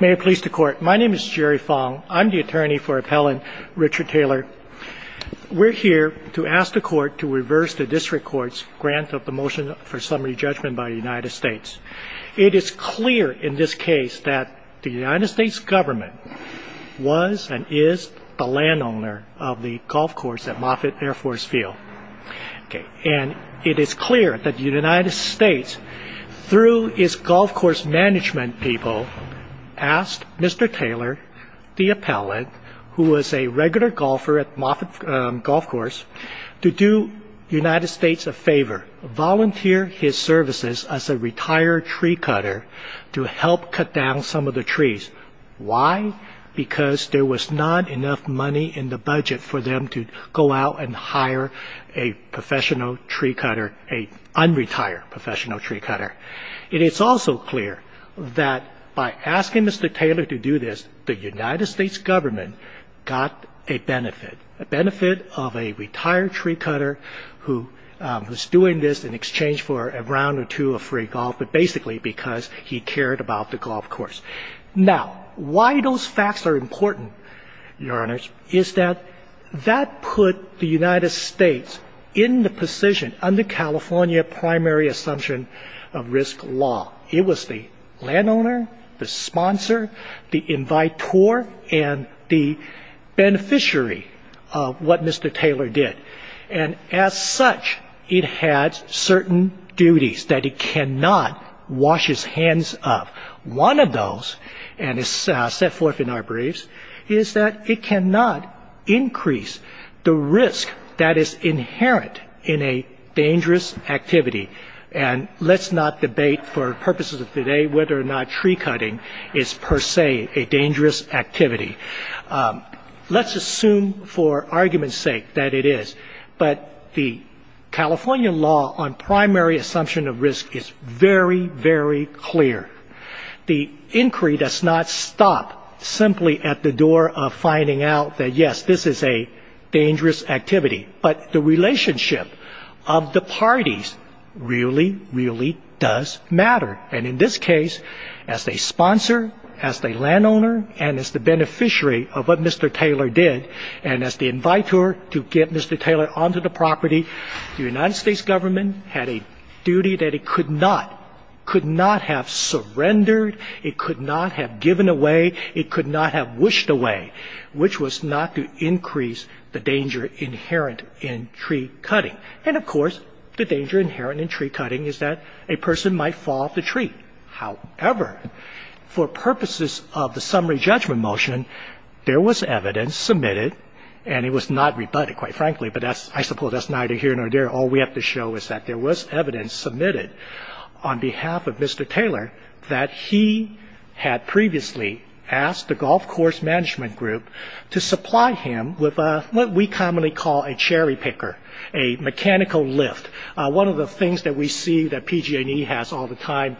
May I please the court. My name is Jerry Fong. I'm the attorney for appellant Richard Taylor. We're here to ask the court to reverse the district court's grant of the motion for summary judgment by the United States. It is clear in this case that the United States government was and is the landowner of the golf course at Moffett Air Force Field. And it is clear that the United States, through its golf course management people, asked Mr. Taylor, the appellant, who was a regular golfer at Moffett Golf Course, to do the United States a favor. Volunteer his services as a retired tree cutter to help cut down some of the trees. Why? Because there was not enough money in the budget for them to go out and hire a professional tree cutter, an unretired professional tree cutter. It is also clear that by asking Mr. Taylor to do this, the United States government got a benefit, a benefit of a retired tree cutter who was doing this in exchange for a round or two of free golf, but basically because he cared about the golf course. Now, why those facts are important, Your Honors, is that that put the United States in the position, under California primary assumption of risk law. It was the landowner, the sponsor, the invitor, and the beneficiary of what Mr. Taylor did. And as such, it had certain duties that it cannot wash its hands of. One of those, and it's set forth in our briefs, is that it cannot increase the risk that is inherent in a dangerous activity. And let's not debate for purposes of today whether or not tree cutting is per se a dangerous activity. Let's assume for argument's sake that it is. But the California law on primary assumption of risk is very, very clear. The inquiry does not stop simply at the door of finding out that, yes, this is a dangerous activity. But the relationship of the parties really, really does matter. And in this case, as a sponsor, as the landowner, and as the beneficiary of what Mr. Taylor did, and as the invitor to get Mr. Taylor onto the property, the United States government had a duty that it could not have surrendered, it could not have given away, it could not have wished away, which was not to increase the danger inherent in tree cutting. And, of course, the danger inherent in tree cutting is that a person might fall off the tree. However, for purposes of the summary judgment motion, there was evidence submitted, and it was not rebutted, quite frankly, but I suppose that's neither here nor there. All we have to show is that there was evidence submitted on behalf of Mr. Taylor that he had previously asked the golf course management group to supply him with what we commonly call a cherry picker, a mechanical lift, one of the things that we see that PG&E has all the time.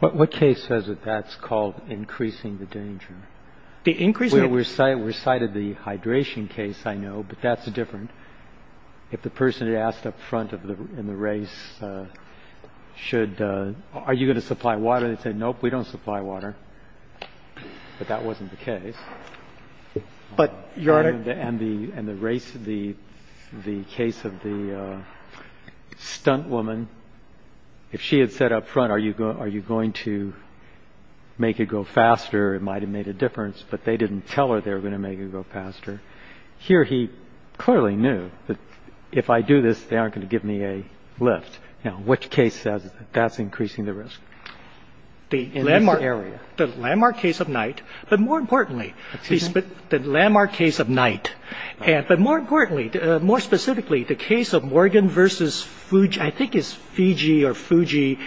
What case says that that's called increasing the danger? The increasing the danger? We cited the hydration case, I know, but that's different. If the person had asked up front in the race, should, are you going to supply water, they'd say, nope, we don't supply water. But that wasn't the case. But, Your Honor? And the race, the case of the stunt woman, if she had said up front, are you going to make it go faster, it might have made a difference, but they didn't tell her they were going to make it go faster. Here he clearly knew that if I do this, they aren't going to give me a lift. Now, which case says that that's increasing the risk? In this area. The landmark case of night, but more importantly, the landmark case of night, but more importantly, more specifically, the case of Morgan versus, I think it's Fiji or Fuji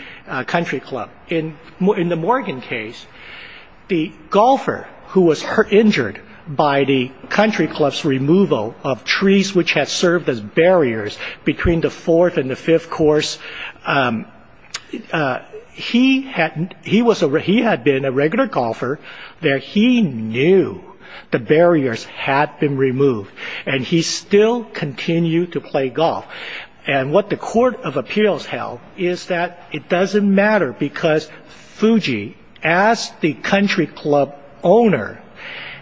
Country Club. In the Morgan case, the golfer who was injured by the country club's removal of trees which had served as barriers between the fourth and the fifth course, he had been a regular golfer there. He knew the barriers had been removed, and he still continued to play golf. And what the court of appeals held is that it doesn't matter, because Fuji, as the country club owner,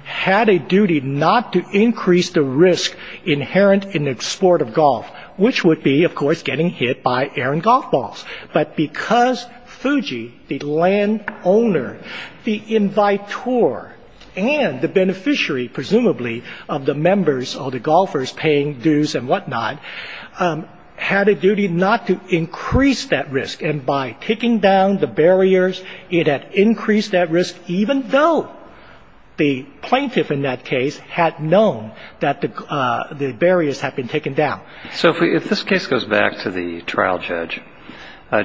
had a duty not to increase the risk inherent in the sport of golf, which would be, of course, getting hit by air and golf balls. But because Fuji, the land owner, the invitor, and the beneficiary, presumably, of the members or the golfers paying dues and whatnot, had a duty not to increase that risk, and by taking down the barriers, it had increased that risk, even though the plaintiff in that case had known that the barriers had been taken down. So if this case goes back to the trial judge,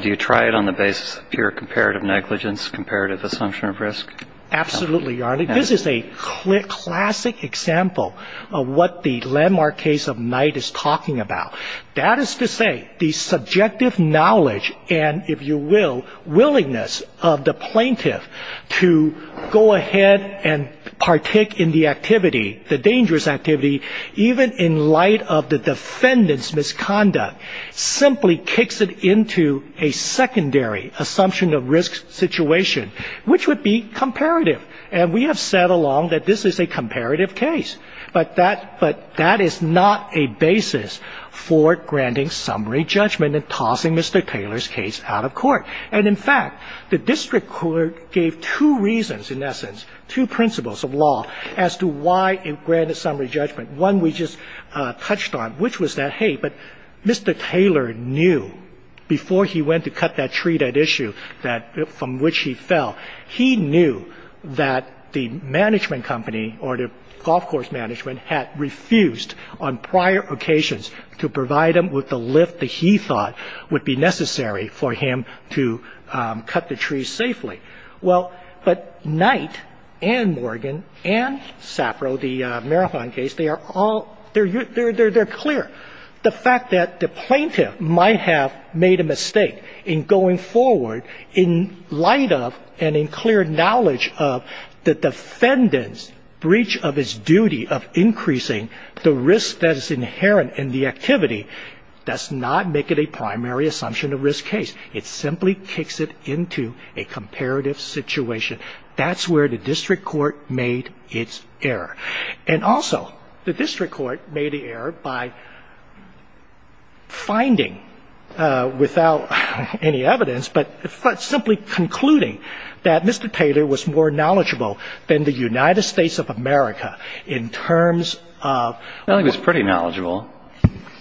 do you try it on the basis of pure comparative negligence, comparative assumption of risk? Absolutely, Your Honor. This is a classic example of what the landmark case of Knight is talking about. That is to say, the subjective knowledge and, if you will, willingness of the plaintiff to go ahead and partake in the activity, the dangerous activity, even in light of the defendant's misconduct, simply kicks it into a secondary assumption of risk situation, which would be comparative. And we have said along that this is a comparative case. But that is not a basis for granting summary judgment and tossing Mr. Taylor's case out of court. And, in fact, the district court gave two reasons, in essence, two principles of law, as to why it granted summary judgment. One we just touched on, which was that, hey, but Mr. Taylor knew before he went to cut that tree, that issue from which he fell, he knew that the management company or the golf course management had refused on prior occasions to provide him with the lift that he thought would be necessary for him to cut the tree safely. Well, but Knight and Morgan and Sappro, the Marathon case, they are all, they're clear. The fact that the plaintiff might have made a mistake in going forward in light of and in clear knowledge of the defendant's breach of his duty of increasing the risk that is inherent in the activity does not make it a primary assumption of risk case. It simply kicks it into a comparative situation. That's where the district court made its error. And, also, the district court made the error by finding, without any evidence, but simply concluding that Mr. Taylor was more knowledgeable than the United States of America in terms of I think he was pretty knowledgeable,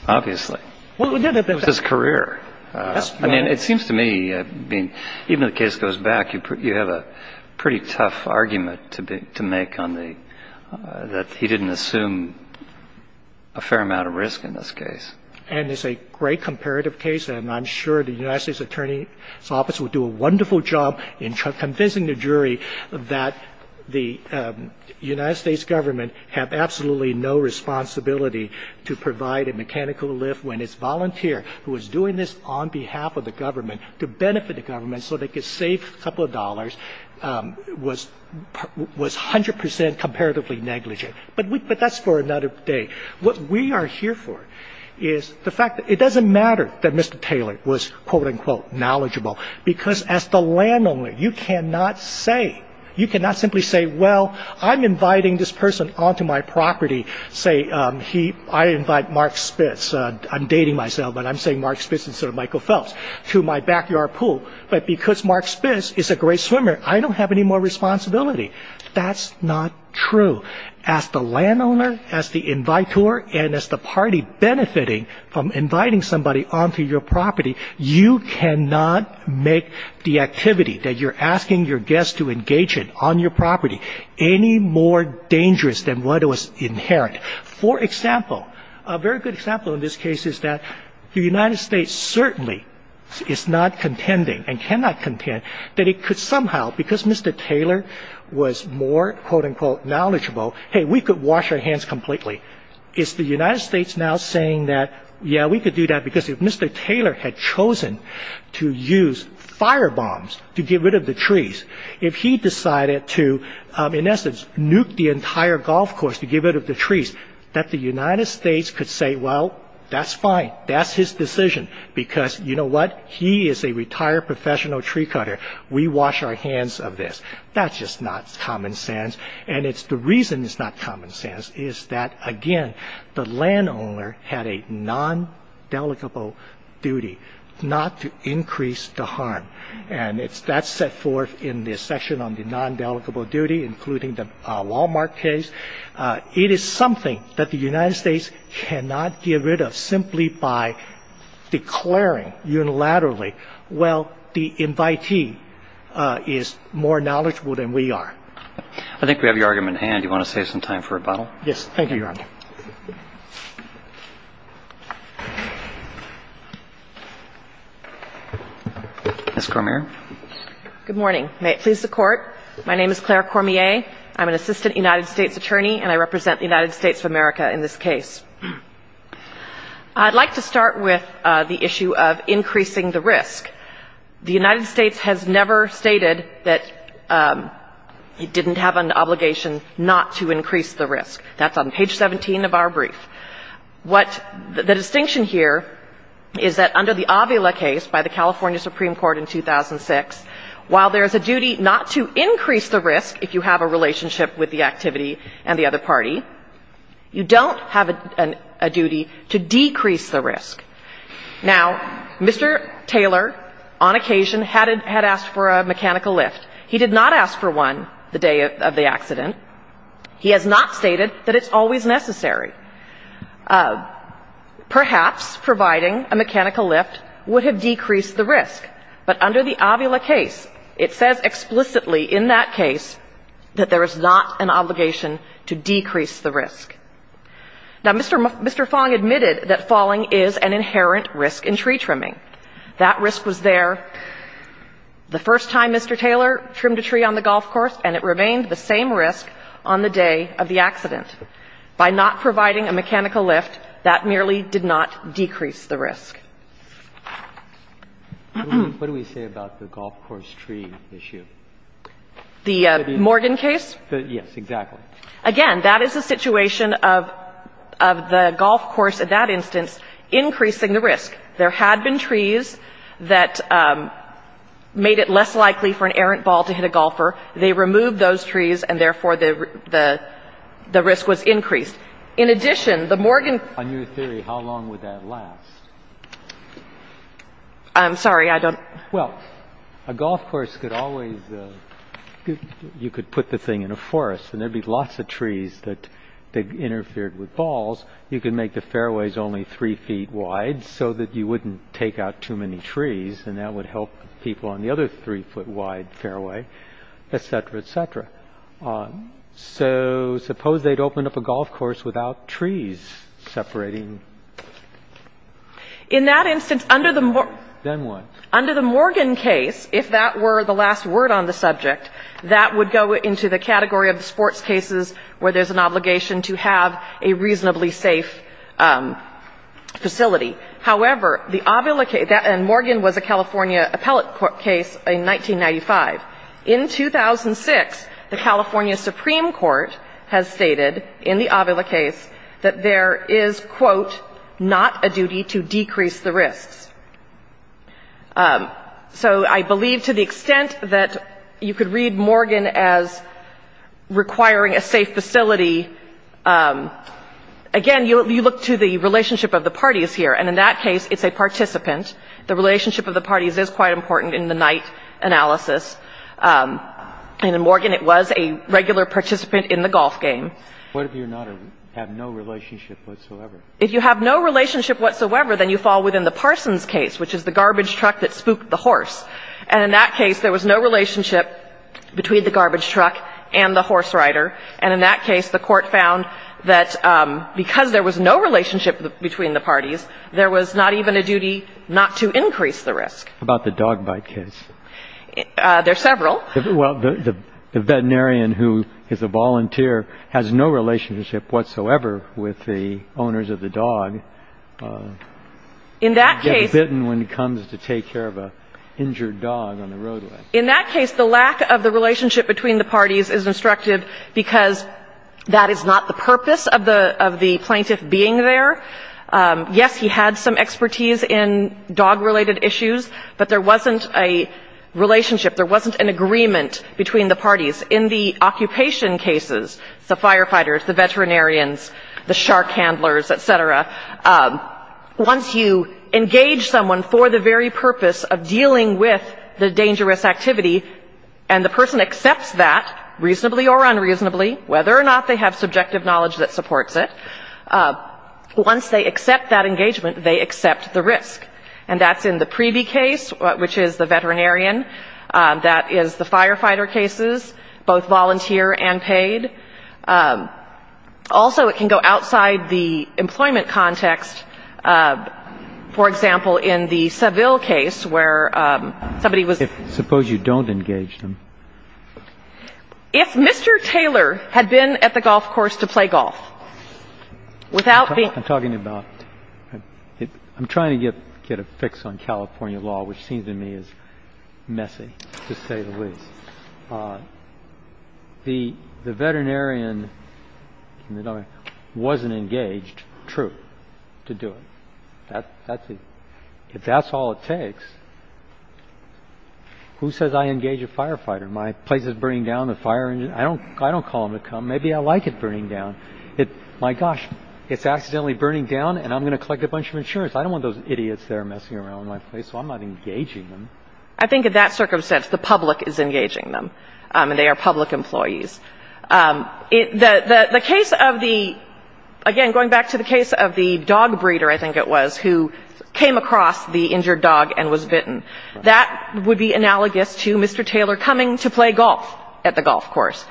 obviously. It was his career. I mean, it seems to me, even if the case goes back, you have a pretty tough argument to make on the, that he didn't assume a fair amount of risk in this case. And it's a great comparative case. And I'm sure the United States attorney's office will do a wonderful job in convincing the jury that the United States government have absolutely no responsibility to provide a mechanical lift when this volunteer who was doing this on behalf of the government to benefit the government so they could save a couple of dollars was 100 percent comparatively negligent. But that's for another day. What we are here for is the fact that it doesn't matter that Mr. Taylor was, quote-unquote, knowledgeable, because as the landowner, you cannot say, you cannot simply say, well, I'm inviting this person onto my property, say, I invite Mark Spitz, I'm dating myself, but I'm saying Mark Spitz instead of Michael Phelps, to my backyard pool. But because Mark Spitz is a great swimmer, I don't have any more responsibility. That's not true. As the landowner, as the invitor, and as the party benefiting from inviting somebody onto your property, you cannot make the activity that you're asking your guest to engage in on your property any more dangerous than what was inherent. For example, a very good example in this case is that the United States certainly is not contending and cannot contend that it could somehow, because Mr. Taylor was more, quote-unquote, knowledgeable, hey, we could wash our hands completely. Is the United States now saying that, yeah, we could do that, because if Mr. Taylor had chosen to use firebombs to get rid of the trees, if he decided to, in essence, nuke the entire golf course to get rid of the trees, that the United States could say, well, that's fine, that's his decision, because you know what? He is a retired professional tree cutter. We wash our hands of this. That's just not common sense. And it's the reason it's not common sense is that, again, the landowner had a nondelegable duty not to increase the harm. And that's set forth in this section on the nondelegable duty, including the Wal-Mart case. It is something that the United States cannot get rid of simply by declaring unilaterally, well, the invitee is more knowledgeable than we are. I think we have your argument at hand. Do you want to save some time for rebuttal? Thank you, Your Honor. Ms. Cormier. Good morning. May it please the Court. My name is Claire Cormier. I'm an assistant United States attorney, and I represent the United States of America in this case. I'd like to start with the issue of increasing the risk. The United States has never stated that it didn't have an obligation not to increase the risk. That's on page 17 of our brief. What the distinction here is that under the Avila case by the California Supreme Court in 2006, while there is a duty not to increase the risk if you have a relationship with the activity and the other party, you don't have a duty to decrease the risk. Now, Mr. Taylor, on occasion, had asked for a mechanical lift. He did not ask for one the day of the accident. He has not stated that it's always necessary. Perhaps providing a mechanical lift would have decreased the risk, but under the Avila case, it says explicitly in that case that there is not an obligation to decrease the risk. Now, Mr. Fong admitted that falling is an inherent risk in tree trimming. That risk was there the first time Mr. Taylor trimmed a tree on the golf course, and it remained the same risk on the day of the accident. By not providing a mechanical lift, that merely did not decrease the risk. What do we say about the golf course tree issue? The Morgan case? Yes, exactly. Again, that is a situation of the golf course, in that instance, increasing the risk. There had been trees that made it less likely for an errant ball to hit a golfer. They removed those trees, and therefore, the risk was increased. In addition, the Morgan case. On your theory, how long would that last? I'm sorry. I don't. Well, a golf course could always, you could put the thing in a forest, and there would be lots of trees that interfered with balls. You could make the fairways only three feet wide so that you wouldn't take out too many trees, and that would help people on the other three-foot-wide fairway, et cetera, et cetera. So suppose they'd opened up a golf course without trees separating. In that instance, under the Morgan. Then what? Under the Morgan case, if that were the last word on the subject, that would go into the category of sports cases where there's an obligation to have a reasonably safe facility. However, the Avila case, and Morgan was a California appellate case in 1995. In 2006, the California Supreme Court has stated in the Avila case that there is, quote, not a duty to decrease the risks. So I believe to the extent that you could read Morgan as requiring a safe facility, again, you look to the relationship of the parties here. And in that case, it's a participant. The relationship of the parties is quite important in the Knight analysis. And in Morgan, it was a regular participant in the golf game. If you have no relationship whatsoever, then you fall within the Parsons case, which is the garbage truck that spooked the horse. And in that case, there was no relationship between the garbage truck and the horse rider. And in that case, the Court found that because there was no relationship between the parties, there was not even a duty not to increase the risk. How about the dog bite case? There are several. Well, the veterinarian who is a volunteer has no relationship whatsoever with the owners of the dog. In that case. He gets bitten when he comes to take care of an injured dog on the roadway. In that case, the lack of the relationship between the parties is instructive because that is not the purpose of the plaintiff being there. Yes, he had some expertise in dog-related issues, but there wasn't a relationship, there wasn't an agreement between the parties. In the occupation cases, the firefighters, the veterinarians, the shark handlers, et cetera, once you engage someone for the very purpose of dealing with the dangerous activity, and the person accepts that, reasonably or unreasonably, whether or not they have subjective knowledge that supports it, once they accept that engagement, they accept the risk. And that's in the Preeby case, which is the veterinarian. That is the firefighter cases, both volunteer and paid. Also, it can go outside the employment context. For example, in the Saville case where somebody was ---- If suppose you don't engage them. If Mr. Taylor had been at the golf course to play golf, without being ---- I'm talking about ---- I'm trying to get a fix on California law, which seems to me is messy, to say the least. The veterinarian wasn't engaged, true, to do it. If that's all it takes, who says I engage a firefighter? My place is burning down, the fire engine. I don't call them to come. Maybe I like it burning down. My gosh, it's accidentally burning down, and I'm going to collect a bunch of insurance. I don't want those idiots there messing around with my place, so I'm not engaging them. I think in that circumstance, the public is engaging them, and they are public employees. The case of the ---- again, going back to the case of the dog breeder, I think it was, who came across the injured dog and was bitten, that would be analogous to Mr. Taylor coming to play golf at the golf course.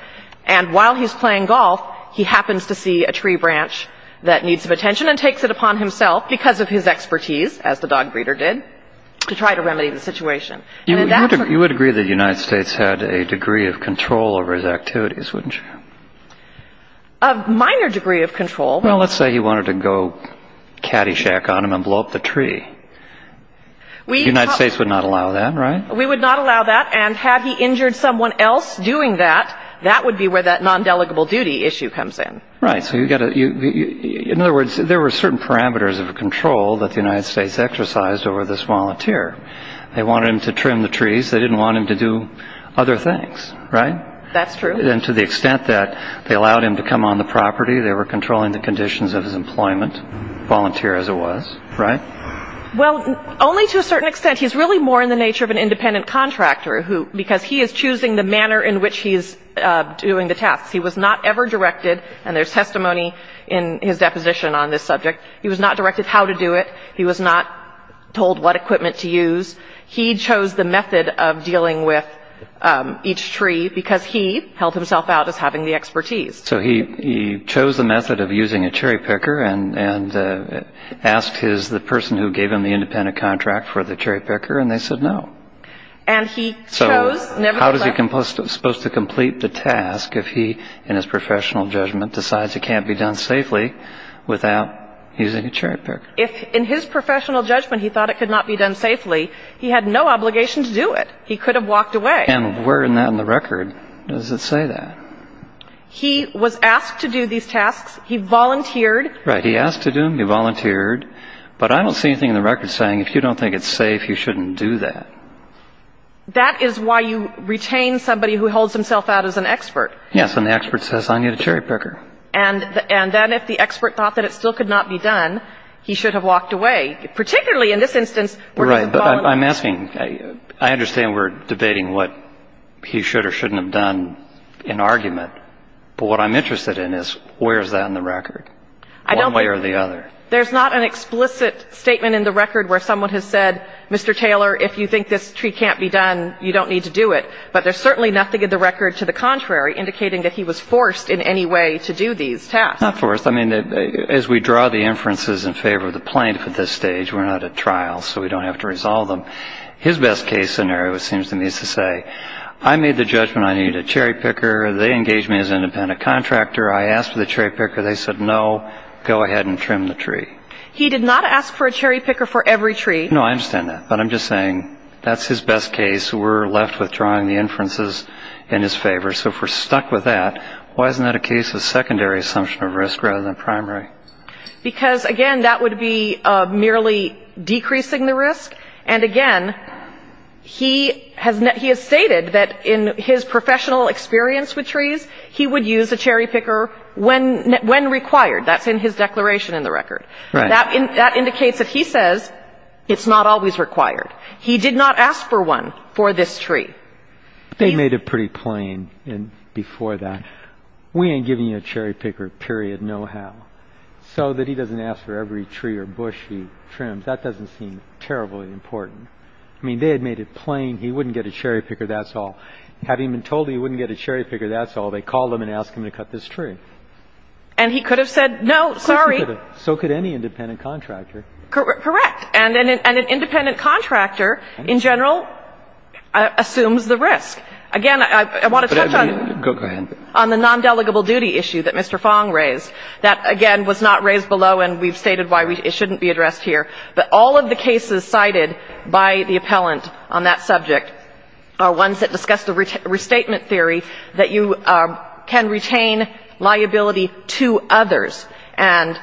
And while he's playing golf, he happens to see a tree branch that needs some attention and takes it upon himself, because of his expertise, as the dog breeder did, to try to remedy the situation. You would agree that the United States had a degree of control over his activities, wouldn't you? A minor degree of control. Well, let's say he wanted to go caddyshack on him and blow up the tree. The United States would not allow that, right? We would not allow that, and had he injured someone else doing that, that would be where that non-delegable duty issue comes in. Right. In other words, there were certain parameters of control that the United States exercised over this volunteer. They wanted him to trim the trees. They didn't want him to do other things, right? That's true. And to the extent that they allowed him to come on the property, they were controlling the conditions of his employment, volunteer as it was, right? Well, only to a certain extent. He's really more in the nature of an independent contractor, because he is choosing the manner in which he is doing the tasks. He was not ever directed, and there's testimony in his deposition on this subject, he was not directed how to do it, he was not told what equipment to use. He chose the method of dealing with each tree because he held himself out as having the expertise. So he chose the method of using a cherry picker and asked the person who gave him the independent contract for the cherry picker, and they said no. So how is he supposed to complete the task if he, in his professional judgment, decides it can't be done safely without using a cherry picker? In his professional judgment, he thought it could not be done safely. He had no obligation to do it. He could have walked away. And where in the record does it say that? He was asked to do these tasks. He volunteered. Right. He asked to do them. He volunteered. But I don't see anything in the record saying if you don't think it's safe, you shouldn't do that. That is why you retain somebody who holds himself out as an expert. Yes. And the expert says I need a cherry picker. And then if the expert thought that it still could not be done, he should have walked away, particularly in this instance where he's a volunteer. Right. I don't think there's an explicit argument. But what I'm interested in is where is that in the record, one way or the other? There's not an explicit statement in the record where someone has said, Mr. Taylor, if you think this tree can't be done, you don't need to do it. But there's certainly nothing in the record to the contrary indicating that he was forced in any way to do these tasks. Not forced. I mean, as we draw the inferences in favor of the plaintiff at this stage, we're not at trial, so we don't have to resolve them. His best case scenario, it seems to me, is to say I made the judgment I needed a cherry picker. They engaged me as an independent contractor. I asked for the cherry picker. They said no, go ahead and trim the tree. He did not ask for a cherry picker for every tree. No, I understand that. But I'm just saying that's his best case. We're left with drawing the inferences in his favor. So if we're stuck with that, why isn't that a case of secondary assumption of risk rather than primary? Because, again, that would be merely decreasing the risk. And, again, he has stated that in his professional experience with trees, he would use a cherry picker when required. That's in his declaration in the record. Right. That indicates that he says it's not always required. He did not ask for one for this tree. They made it pretty plain before that. We ain't giving you a cherry picker, period, no how, so that he doesn't ask for every tree or bush he trims. That doesn't seem terribly important. I mean, they had made it plain he wouldn't get a cherry picker, that's all. Having been told he wouldn't get a cherry picker, that's all, they called him and asked him to cut this tree. And he could have said no, sorry. Of course he could have. So could any independent contractor. Correct. And an independent contractor, in general, assumes the risk. Again, I want to touch on the non-delegable duty issue that Mr. Fong raised. That, again, was not raised below, and we've stated why it shouldn't be addressed here. But all of the cases cited by the appellant on that subject are ones that discuss the restatement theory that you can retain liability to others and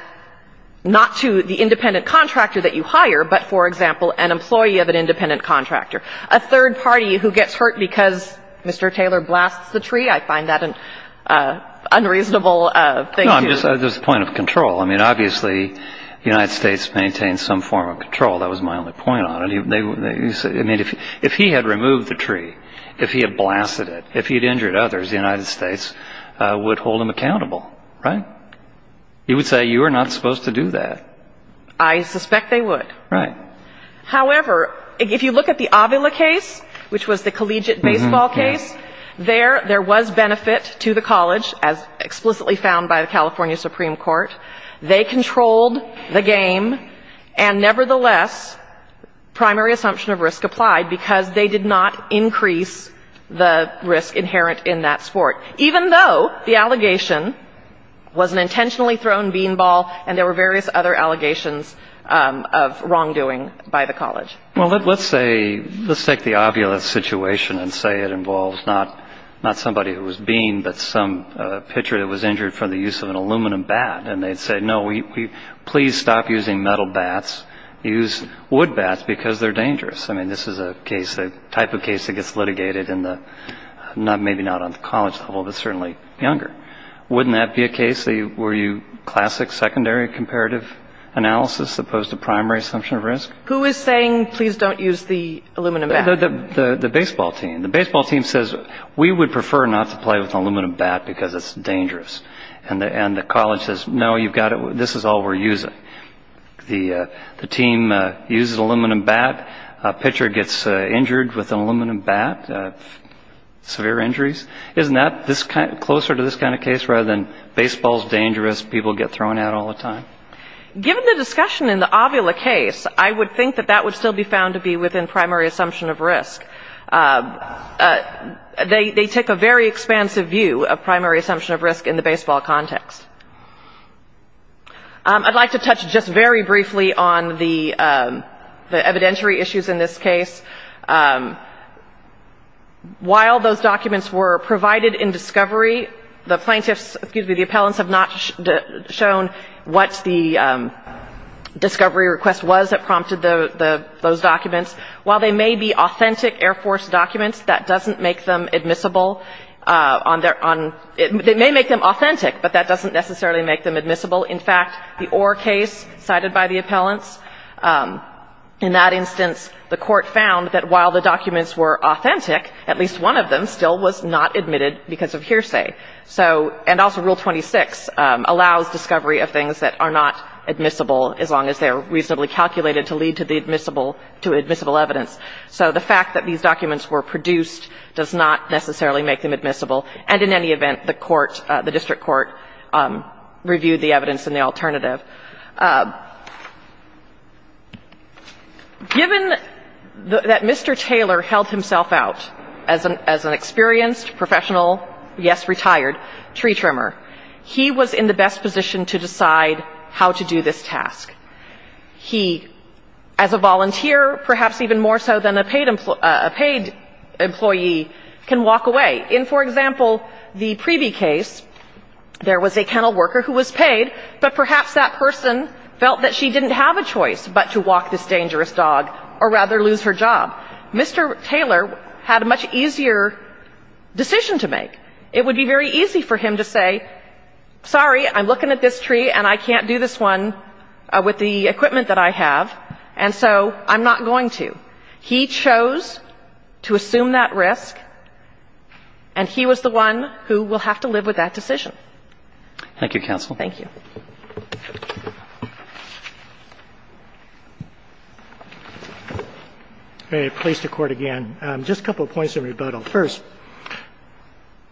not to the independent contractor that you hire, but, for example, an employee of an independent contractor. A third party who gets hurt because Mr. Taylor blasts the tree, I find that an unreasonable thing to do. Yes, there's a point of control. I mean, obviously, the United States maintains some form of control. That was my only point on it. I mean, if he had removed the tree, if he had blasted it, if he had injured others, the United States would hold him accountable, right? You would say you are not supposed to do that. I suspect they would. Right. However, if you look at the Avila case, which was the collegiate baseball case, there, there was benefit to the college, as explicitly found by the California Supreme Court. They controlled the game, and, nevertheless, primary assumption of risk applied because they did not increase the risk inherent in that sport, even though the allegation was an intentionally thrown beanball and there were various other allegations of wrongdoing by the college. Well, let's say, let's take the Avila situation and say it involves not, not somebody who was beaned, but some pitcher that was injured from the use of an aluminum bat. And they'd say, no, we, we, please stop using metal bats. Use wood bats because they're dangerous. I mean, this is a case, a type of case that gets litigated in the, maybe not on the college level, but certainly younger. Wouldn't that be a case where you, classic secondary comparative analysis opposed to primary assumption of risk? Who is saying, please don't use the aluminum bat? The, the, the baseball team. The baseball team says, we would prefer not to play with an aluminum bat because it's dangerous. And the, and the college says, no, you've got to, this is all we're using. The, the team uses aluminum bat. A pitcher gets injured with an aluminum bat, severe injuries. Isn't that this kind, closer to this kind of case rather than baseball's dangerous, people get thrown at all the time? Given the discussion in the Avila case, I would think that that would still be found to be within primary assumption of risk. They, they take a very expansive view of primary assumption of risk in the baseball context. I'd like to touch just very briefly on the, the evidentiary issues in this case. While those documents were provided in discovery, the plaintiffs, excuse me, the discovery request was that prompted the, the, those documents. While they may be authentic Air Force documents, that doesn't make them admissible on their, on, it may make them authentic, but that doesn't necessarily make them admissible. In fact, the Orr case cited by the appellants, in that instance, the court found that while the documents were authentic, at least one of them still was not admitted because of hearsay. So, and also Rule 26 allows discovery of things that are not admissible as long as they're reasonably calculated to lead to the admissible, to admissible evidence. So the fact that these documents were produced does not necessarily make them admissible, and in any event, the court, the district court reviewed the evidence in the alternative. Given that Mr. Taylor held himself out as an, as an experienced professional, yes, retired tree trimmer, he was in the best position to decide how to do this task. He, as a volunteer, perhaps even more so than a paid employee, can walk away. In, for example, the Preeby case, there was a kennel worker who was paid, but perhaps that person felt that she didn't have a choice but to walk this dangerous dog or rather lose her job. Mr. Taylor had a much easier decision to make. It would be very easy for him to say, sorry, I'm looking at this tree and I can't do this one with the equipment that I have, and so I'm not going to. He chose to assume that risk, and he was the one who will have to live with that decision. Thank you, counsel. Thank you. I'm going to place the court again. Just a couple of points in rebuttal. First,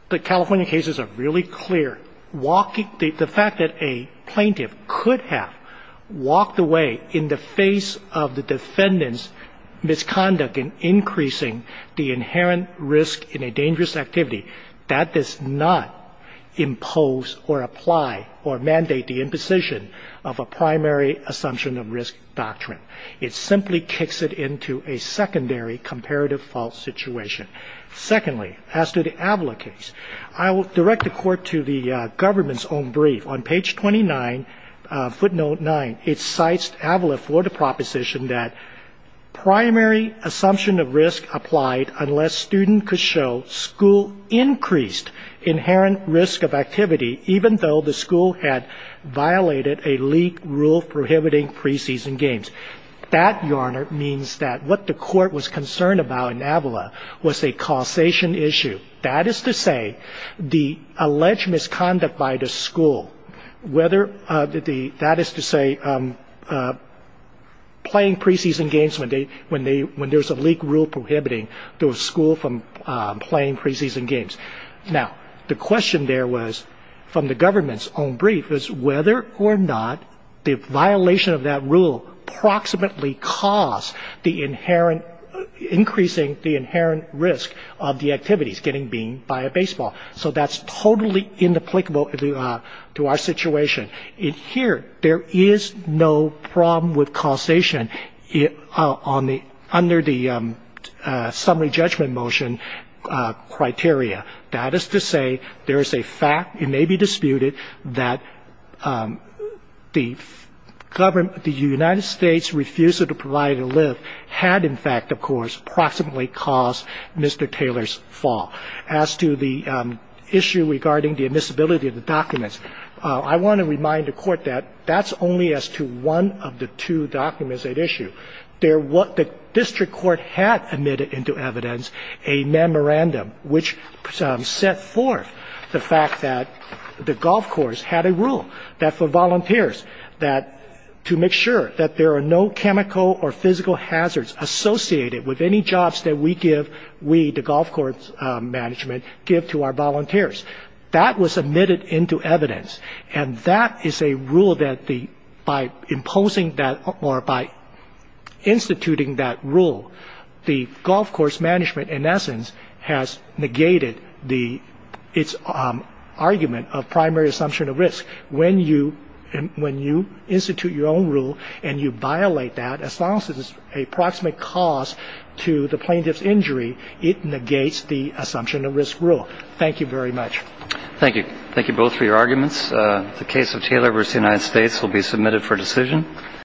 the California cases are really clear. Walking, the fact that a plaintiff could have walked away in the face of the defendant's misconduct in increasing the inherent risk in a dangerous activity, that does not impose or apply or mandate the imposition of a primary assumption of risk doctrine. It simply kicks it into a secondary comparative fault situation. Secondly, as to the Avila case, I will direct the court to the government's own brief. On page 29, footnote 9, it cites Avila for the proposition that primary assumption of risk applied unless student could show school increased inherent risk of activity, even though the school had violated a leak rule prohibiting preseason games. That, Your Honor, means that what the court was concerned about in Avila was a causation issue. That is to say, the alleged misconduct by the school, whether the ‑‑ that is to say, playing preseason games when there's a leak rule prohibiting the school from playing preseason games. Now, the question there was, from the government's own brief, is whether or not the violation of that rule approximately caused the inherent ‑‑ increasing the inherent risk of the activities, getting beamed by a baseball. So that's totally inapplicable to our situation. In here, there is no problem with causation on the ‑‑ under the summary judgment motion criteria. That is to say, there is a fact, it may be disputed, that the government ‑‑ the United States refusal to provide a lift had, in fact, of course, approximately caused Mr. Taylor's fall. As to the issue regarding the admissibility of the documents, I want to remind the court that that's only as to one of the two documents at issue. The district court had admitted into evidence a memorandum which set forth the fact that the golf course had a rule that for volunteers, that to make sure that there are no chemical or physical hazards associated with any jobs that we give, we, the golf course management, give to our volunteers. That was admitted into evidence. And that is a rule that the ‑‑ by imposing that or by instituting that rule, the golf course management, in essence, has negated the ‑‑ its argument of primary assumption of risk. When you institute your own rule and you violate that, as long as it's a proximate cause to the plaintiff's injury, it negates the assumption of risk rule. Thank you very much. Thank you. Thank you both for your arguments. The case of Taylor v. United States will be submitted for decision.